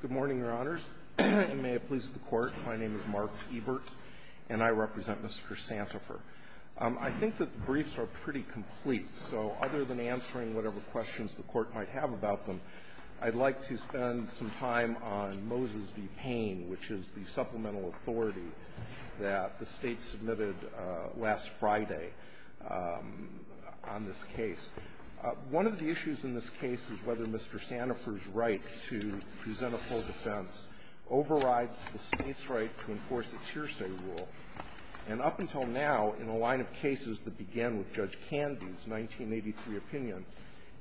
Good morning, Your Honors, and may it please the Court, my name is Mark Ebert, and I represent Mr. Santifer. I think that the briefs are pretty complete, so other than answering whatever questions the Court might have about them, I'd like to spend some time on Moses v. Payne, which is the supplemental authority that the State submitted last Friday on this case. One of the issues in this case is whether Mr. Santifer's right to present a full defense overrides the State's right to enforce its hearsay rule. And up until now, in a line of cases that began with Judge Candy's 1983 opinion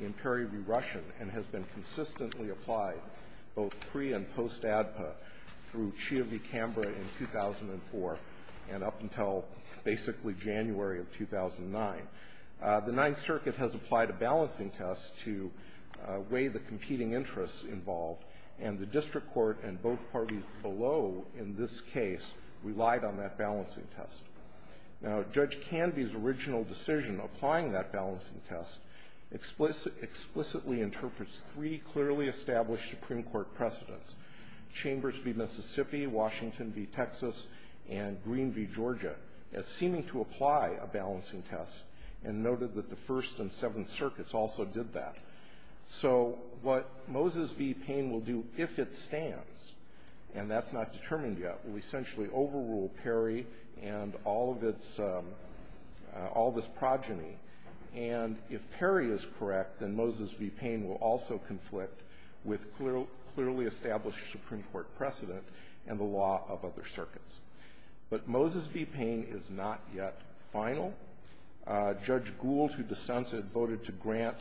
in Perry v. Russian, and has been consistently applied both pre- and post-ADPA through Chia v. Canberra in 2004 and up until basically January of 2009, the Ninth Circuit has applied a balancing test to weigh the competing interests involved, and the district court and both parties below in this case relied on that balancing test. Now, Judge Candy's original decision applying that balancing test explicitly interprets three clearly established Supreme Court precedents, Chambers v. Mississippi, Washington v. Texas, and Green v. Georgia, as seeming to apply a balancing test, and noted that the First and Seventh Circuits also did that. So what Moses v. Payne will do if it stands, and that's not determined yet, will essentially overrule Perry and all of its progeny. And if Perry is correct, then Moses v. Payne will also conflict with clearly established Supreme Court precedent and the law of other circuits. But Moses v. Payne is not yet final. Judge Gould, who dissented, voted to grant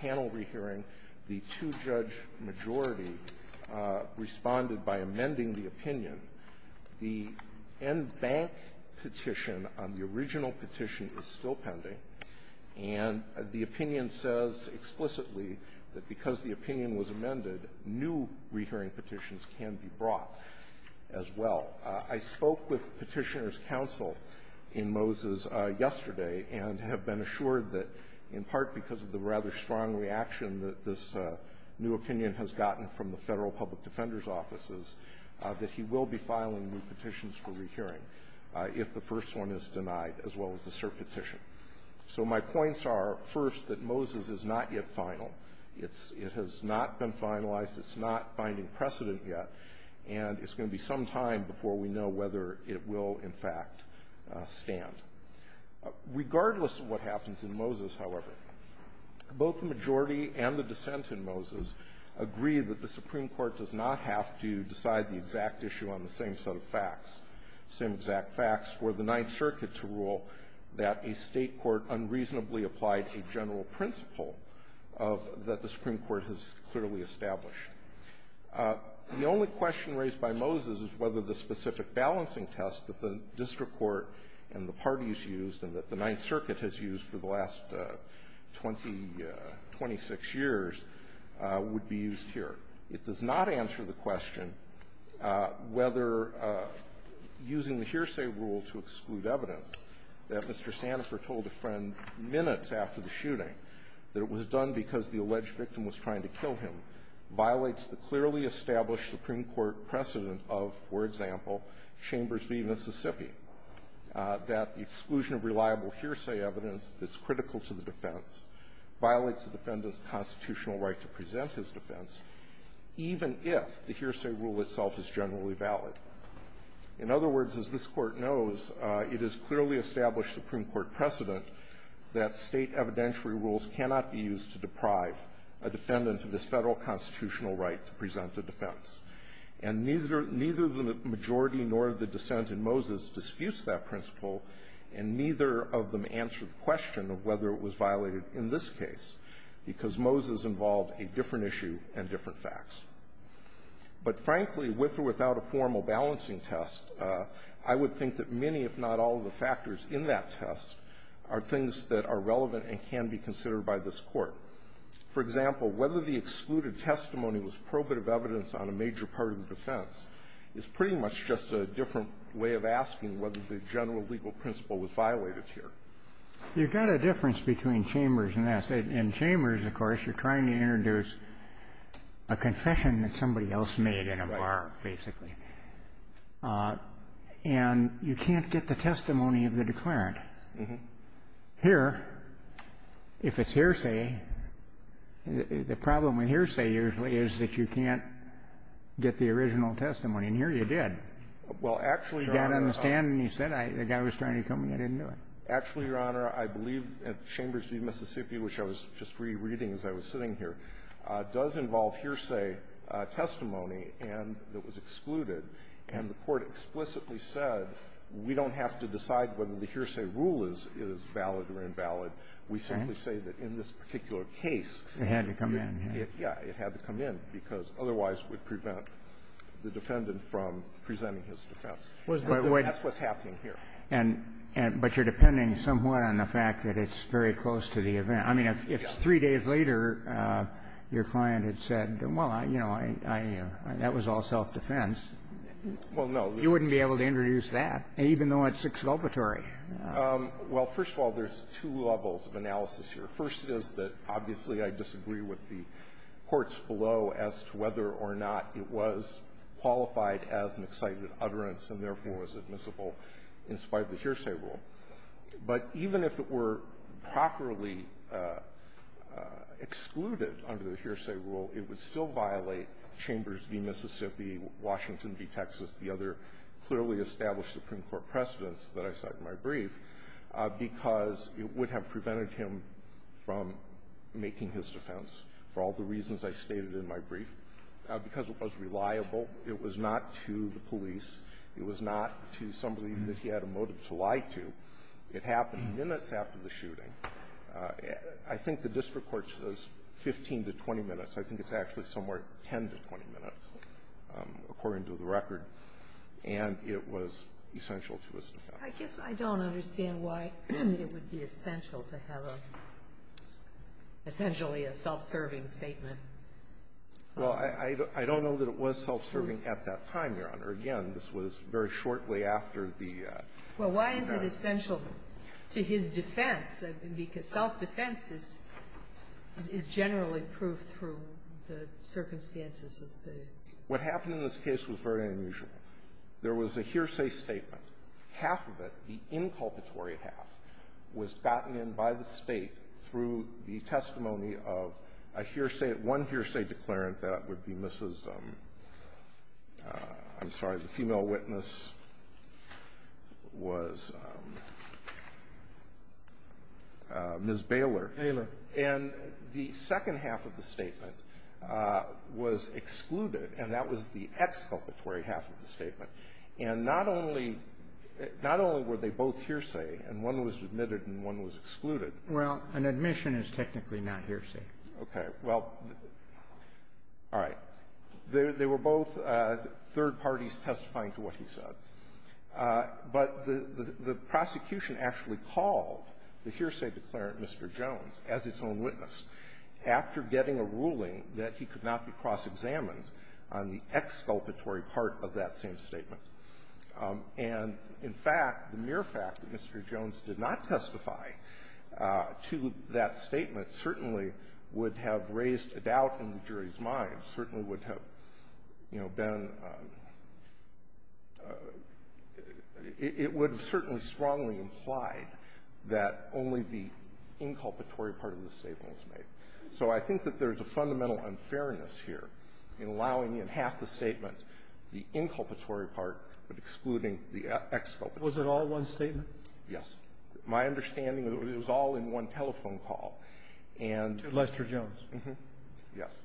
panel rehearing. The two-judge majority responded by amending the opinion. The NBank petition on the original petition is still pending, and the opinion says explicitly that because the opinion was amended, new rehearing petitions can be brought as well. I spoke with Petitioner's counsel in Moses yesterday and have been assured that in part because of the rather strong reaction that this new opinion has gotten from the Federal Public Defender's offices, that he will be filing new petitions for rehearing if the first one is denied, as well as the cert petition. So my points are, first, that Moses is not yet final. It has not been finalized. It's not finding precedent yet, and it's going to be some time before we know whether it will, in fact, stand. Regardless of what happens in Moses, however, both the majority and the dissent in Moses agree that the Supreme Court does not have to decide the exact issue on the same set of facts, same exact facts for the Ninth Circuit to rule that a State court unreasonably applied a general principle that the Supreme Court has clearly established. The only question raised by Moses is whether the specific balancing test that the It does not answer the question whether using the hearsay rule to exclude evidence that Mr. Sanifor told a friend minutes after the shooting that it was done because the alleged victim was trying to kill him violates the clearly established Supreme Court precedent of, for example, Chambers v. Mississippi, that the exclusion of reliable hearsay evidence that's critical to the defense violates the defendant's constitutional right to present his defense, even if the hearsay rule itself is generally valid. In other words, as this Court knows, it is clearly established Supreme Court precedent that State evidentiary rules cannot be used to deprive a defendant of this Federal constitutional right to present a defense. And neither the majority nor the dissent in Moses disputes that principle, and neither of them answer the question of whether it was violated in this case, because Moses involved a different issue and different facts. But frankly, with or without a formal balancing test, I would think that many, if not all, of the factors in that test are things that are relevant and can be considered by this Court. For example, whether the excluded testimony was probative evidence on a major part of the defense is pretty much just a different way of asking whether the general legal principle was violated here. You've got a difference between Chambers and us. In Chambers, of course, you're trying to introduce a confession that somebody else made in a bar, basically. And you can't get the testimony of the declarant. Here, if it's hearsay, the problem with hearsay usually is that you can't get the original testimony. And here you did. Well, actually, Your Honor, I believe that Chambers v. Mississippi, which I was just re-reading as I was sitting here, does involve hearsay testimony, and it was excluded. And the Court explicitly said, we don't have to decide whether the hearsay rule is valid or invalid. We simply say that in this particular case, it had to come in. Because otherwise, it would prevent the defendant from presenting his defense. And that's what's happening here. And you're depending somewhat on the fact that it's very close to the event. I mean, if three days later, your client had said, well, you know, that was all self-defense. Well, no. You wouldn't be able to introduce that, even though it's exculpatory. Well, first of all, there's two levels of analysis here. The first is that, obviously, I disagree with the courts below as to whether or not it was qualified as an excited utterance and, therefore, was admissible in spite of the hearsay rule. But even if it were properly excluded under the hearsay rule, it would still violate Chambers v. Mississippi, Washington v. Texas, the other clearly established Supreme Court precedents that I cite in my brief, because it would have prevented him from making his defense for all the reasons I stated in my brief, because it was reliable. It was not to the police. It was not to somebody that he had a motive to lie to. It happened minutes after the shooting. I think the district court says 15 to 20 minutes. I think it's actually somewhere 10 to 20 minutes, according to the record. And it was essential to his defense. I guess I don't understand why it would be essential to have a, essentially, a self-serving statement. Well, I don't know that it was self-serving at that time, Your Honor. Again, this was very shortly after the united --- Well, why is it essential to his defense? Because self-defense is generally proved through the circumstances of the --- What happened in this case was very unusual. There was a hearsay statement. Half of it, the inculpatory half, was gotten in by the State through the testimony of a hearsay -- one hearsay declarant that would be Mrs. ---- I'm sorry, the female witness was Ms. Baylor. Baylor. And the second half of the statement was excluded, and that was the exculpatory half of the statement. And not only were they both hearsay, and one was admitted and one was excluded --- Well, an admission is technically not hearsay. Okay. Well, all right. They were both third parties testifying to what he said. But the prosecution actually called the hearsay declarant, Mr. Jones, as its own witness after getting a ruling that he could not be cross-examined on the exculpatory part of that same statement. And, in fact, the mere fact that Mr. Jones did not testify to that statement certainly would have raised a doubt in the jury's mind, certainly would have, you know, been ---- it would have certainly strongly implied that only the inculpatory part of the statement was made. So I think that there's a fundamental unfairness here in allowing in half the statement the inculpatory part but excluding the exculpatory. Was it all one statement? Yes. My understanding is it was all in one telephone call. And to Lester Jones. Yes.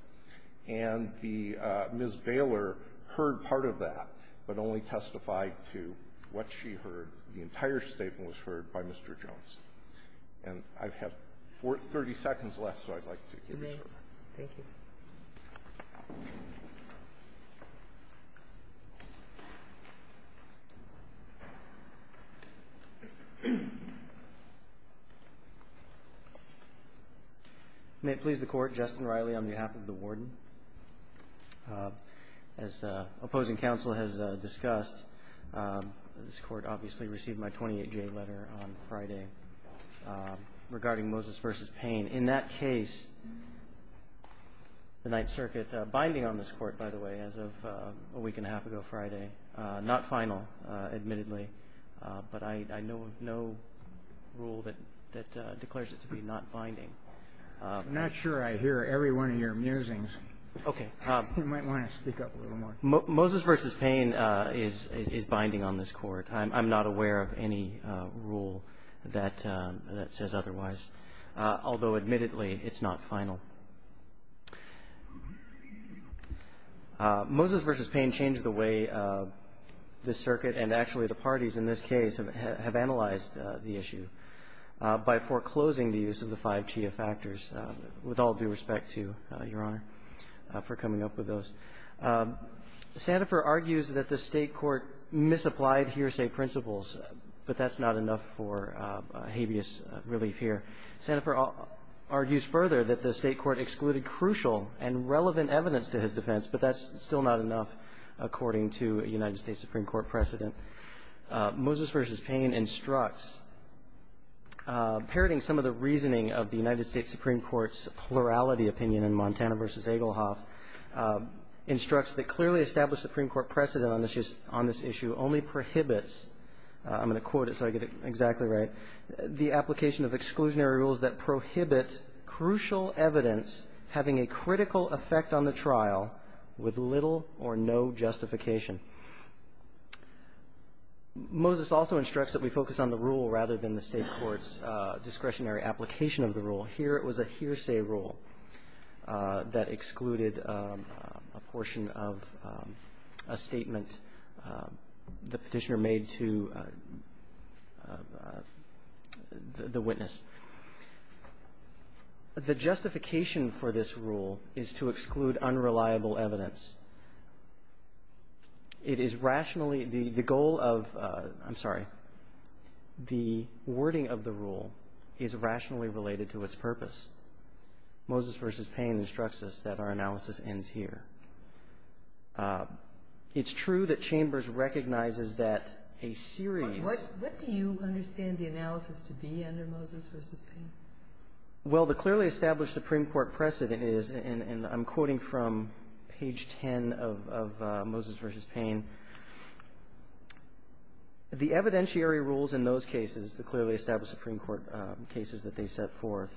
And the Ms. Baylor heard part of that but only testified to what she heard. The entire statement was heard by Mr. Jones. And I have 30 seconds left, so I'd like to give you some more. Thank you. May it please the Court, Justin Riley on behalf of the Warden. As opposing counsel has discussed, this Court obviously received my 28-J letter on Friday regarding Moses v. Payne. In that case, the Ninth Circuit, binding on this Court, by the way, as of a week and a half ago Friday, not final admittedly, but I know of no rule that declares it to be not binding. I'm not sure I hear every one of your musings. Okay. You might want to speak up a little more. Moses v. Payne is binding on this Court. I'm not aware of any rule that says otherwise, although admittedly, it's not final. Moses v. Payne changed the way the Circuit and actually the parties in this case have analyzed the issue by foreclosing the use of the five GIA factors, with all due respect to Your Honor for coming up with those. Sandifer argues that the State Court misapplied hearsay principles, but that's not enough for habeas relief here. Sandifer argues further that the State Court excluded crucial and relevant evidence to his defense, but that's still not enough according to a United States Supreme Court precedent. Moses v. Payne instructs, parroting some of the reasoning of the United States Supreme Court's plurality opinion in Montana v. Egelhoff, instructs that clearly established Supreme Court precedent on this issue only prohibits, I'm going to quote it so I get it exactly right, the application of exclusionary rules that prohibit crucial evidence having a critical effect on the trial with little or no justification. Moses also instructs that we focus on the rule rather than the State Court's discretionary application of the rule. Here it was a hearsay rule that excluded a portion of a statement the petitioner made to the witness. The justification for this rule is to exclude unreliable evidence. It is rationally, the goal of, I'm sorry, the wording of the rule is rationally related to its purpose. Moses v. Payne instructs us that our analysis ends here. It's true that Chambers recognizes that a series of... What do you understand the analysis to be under Moses v. Payne? Well, the clearly established Supreme Court precedent is, and I'm quoting from page 10 of Moses v. Payne, the evidentiary rules in those cases, the clearly established Supreme Court cases that they set forth,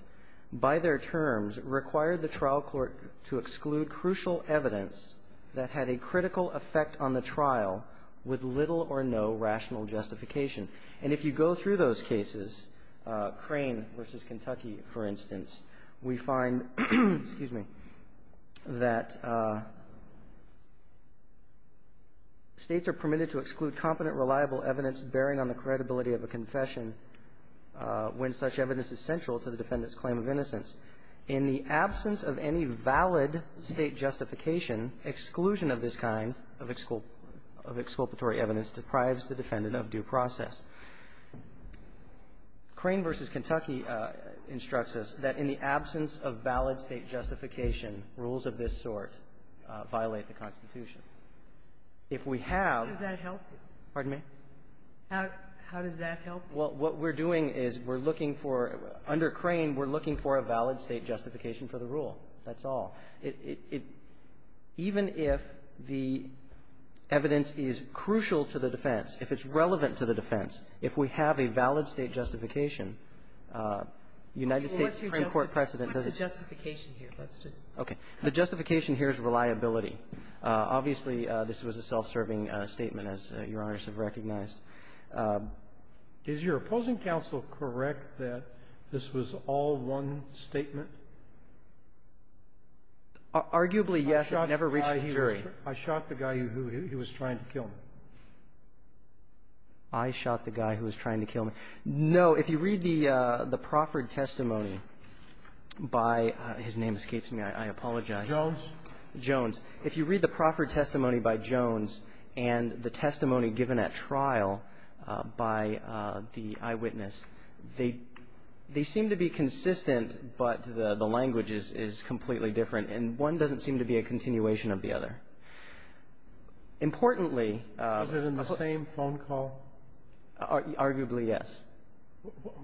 by their terms required the trial court to exclude crucial evidence that had a critical effect on the trial with little or no rational justification. And if you go through those cases, Crane v. Kentucky, for instance, we find that states are permitted to exclude competent, reliable evidence bearing on the credibility of a confession when such evidence is central to the defendant's claim of innocence. In the absence of any valid state justification, exclusion of this kind of exculpatory evidence deprives the defendant of due process. Crane v. Kentucky instructs us that in the absence of valid state justification, rules of this sort violate the Constitution. If we have... How does that help? Pardon me? How does that help? Well, what we're doing is we're looking for, under Crane, we're looking for a valid state justification for the rule. That's all. It even if the evidence is crucial to the defense, if it's relevant to the defense, if we have a valid state justification, United States Supreme Court precedent doesn't... What's the justification here? Let's just... Okay. The justification here is reliability. Obviously, this was a self-serving statement, as Your Honors have recognized. Is your opposing counsel correct that this was all one statement? Arguably, yes. It never reached the jury. I shot the guy who he was trying to kill me. I shot the guy who was trying to kill me. No. If you read the Profford testimony by his name escapes me. I apologize. Jones. Jones. If you read the Profford testimony by Jones and the testimony given at trial by the eyewitness, they seem to be consistent, but the language is completely different. And one doesn't seem to be a continuation of the other. Importantly... Was it in the same phone call? Arguably, yes.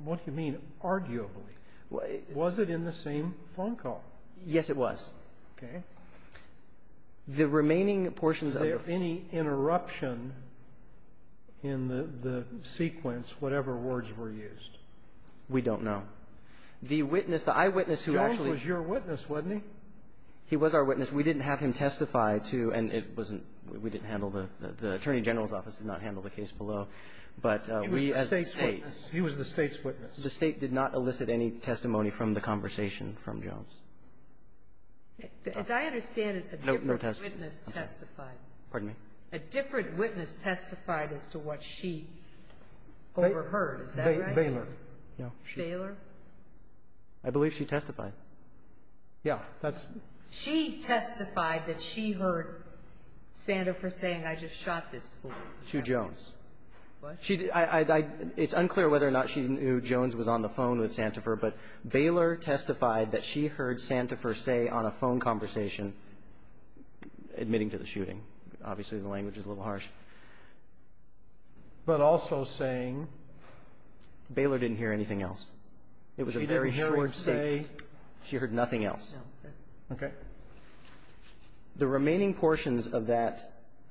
What do you mean, arguably? Was it in the same phone call? Yes, it was. Okay. The remaining portions of the... Was there any interruption in the sequence, whatever words were used? We don't know. The witness, the eyewitness who actually... Jones was your witness, wasn't he? He was our witness. We didn't have him testify to, and it wasn't we didn't handle the, the Attorney General's office did not handle the case below. But we as a State... He was the State's witness. The State did not elicit any testimony from the conversation from Jones. As I understand it, a different witness testified. Pardon me? A different witness testified as to what she overheard. Is that right? Baylor. No. Baylor? I believe she testified. Yeah. That's... She testified that she heard Santifer saying, I just shot this fool. To Jones. What? She did. I, I, it's unclear whether or not she knew Jones was on the phone with Santifer, but Baylor testified that she heard Santifer say on a phone conversation, admitting to the shooting. Obviously, the language is a little harsh. But also saying... Baylor didn't hear anything else. It was a very short statement. She didn't hear him say... She heard nothing else. No. Okay. The remaining portions of that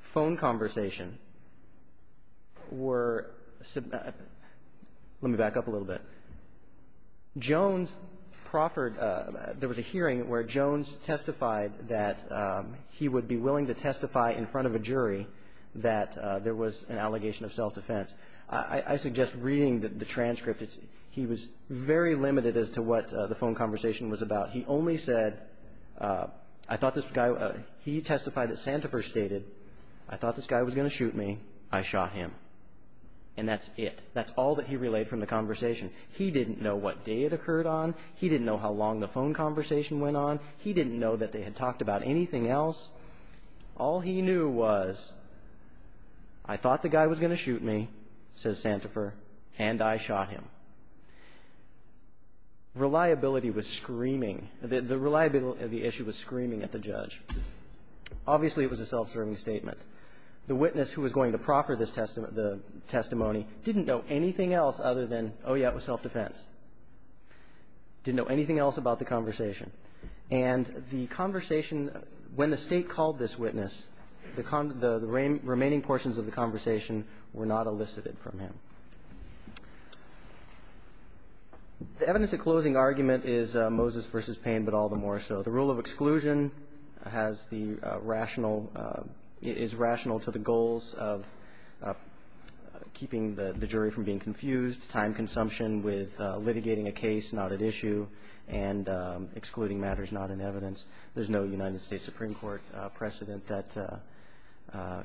phone conversation were, let me back up a little bit. Jones proffered, there was a hearing where Jones testified that he would be willing to testify in front of a jury that there was an allegation of self-defense. I suggest reading the transcript. He was very limited as to what the phone conversation was about. He only said, I thought this guy, he testified that Santifer stated, I thought this guy was going to shoot me. I shot him. And that's it. That's all that he relayed from the conversation. He didn't know what day it occurred on. He didn't know how long the phone conversation went on. He didn't know that they had talked about anything else. All he knew was, I thought the guy was going to shoot me, says Santifer, and I shot him. Reliability was screaming. The reliability of the issue was screaming at the judge. Obviously, it was a self-serving statement. The witness who was going to proffer the testimony didn't know anything else other than, oh, yeah, it was self-defense. Didn't know anything else about the conversation. And the conversation, when the state called this witness, the remaining portions of the conversation were not elicited from him. The evidence of closing argument is Moses versus Payne, but all the more so. The rule of exclusion is rational to the goals of keeping the jury from being confused, time consumption with litigating a case not at issue, and excluding matters not in evidence. There's no United States Supreme Court precedent that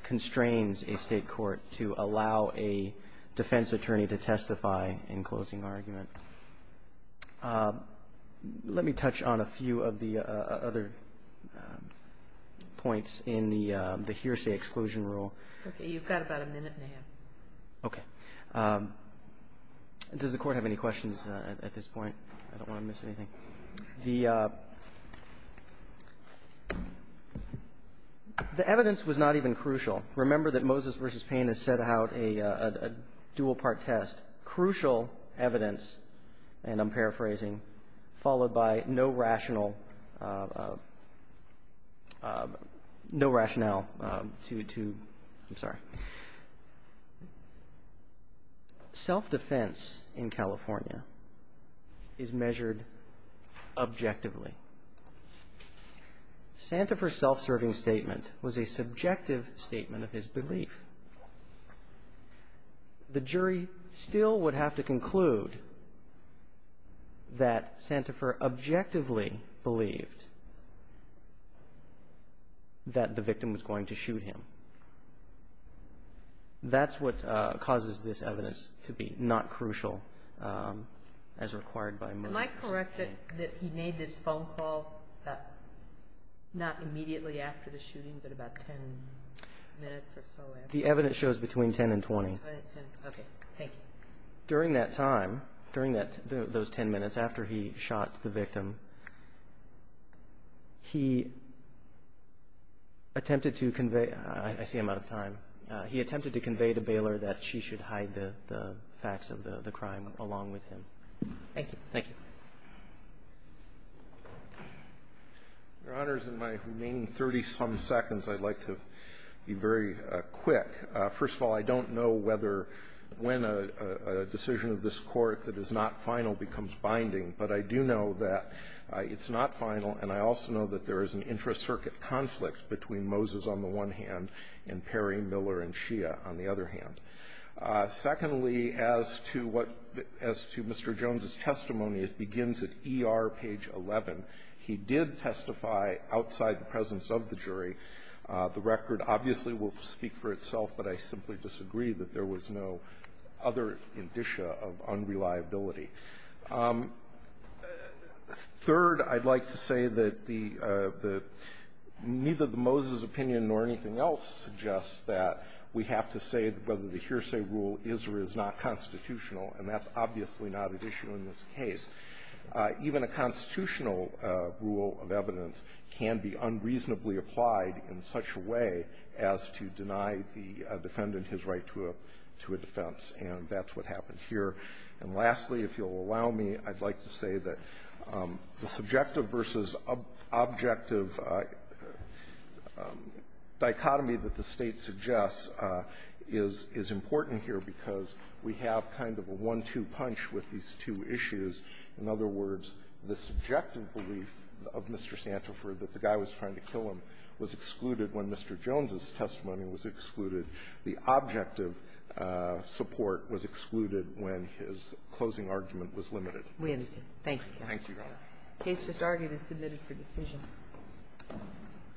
constrains a state court to allow a defense attorney to testify in closing argument. Let me touch on a few of the other points in the hearsay exclusion rule. Okay, you've got about a minute and a half. Okay. Does the court have any questions at this point? I don't want to miss anything. The evidence was not even crucial. Remember that Moses versus Payne has set out a dual part test. Crucial evidence, and I'm paraphrasing, followed by no rational, no rationale to, I'm sorry. Self-defense in California is measured objectively. Santafer's self-serving statement was a subjective statement of his belief. The jury still would have to conclude that Santafer objectively believed that the victim was going to shoot him. That's what causes this evidence to be not crucial as required by Moses. Am I correct that he made this phone call not immediately after the shooting, but about 10 minutes or so after? The evidence shows between 10 and 20. Okay, thank you. During that time, during those 10 minutes after he shot the victim, he attempted to convey, I see I'm out of time. He attempted to convey to Baylor that she should hide the facts of the crime along with him. Thank you. Thank you. Your Honors, in my remaining 30-some seconds, I'd like to be very quick. First of all, I don't know whether when a decision of this Court that is not final becomes binding, but I do know that it's not final, and I also know that there is an intra-circuit conflict between Moses on the one hand and Perry, Miller, and Shia on the other hand. Secondly, as to what Mr. Jones' testimony, it begins at ER page 11. He did testify outside the presence of the jury. The record obviously will speak for itself, but I simply disagree that there was no other indicia of unreliability. Third, I'd like to say that the neither the Moses opinion nor anything else suggests that we have to say whether the hearsay rule is or is not constitutional, and that's obviously not an issue in this case. Even a constitutional rule of evidence can be unreasonably applied in such a way as to deny the defendant his right to a defense, and that's what happened here. And lastly, if you'll allow me, I'd like to say that the subjective versus objective dichotomy that the State suggests is important here because we have kind of a one-two punch with these two issues. In other words, the subjective belief of Mr. Santafer that the guy was trying to kill him was excluded when Mr. Jones' testimony was excluded. The objective support was excluded when his closing argument was limited. Ginsburg-McGillivray-Campbell, we understand. Thank you, Justice Alito. Alito, thank you, Your Honor. Ginsburg-McGillivray-Campbell, the case just argued is submitted for decision. Thank you.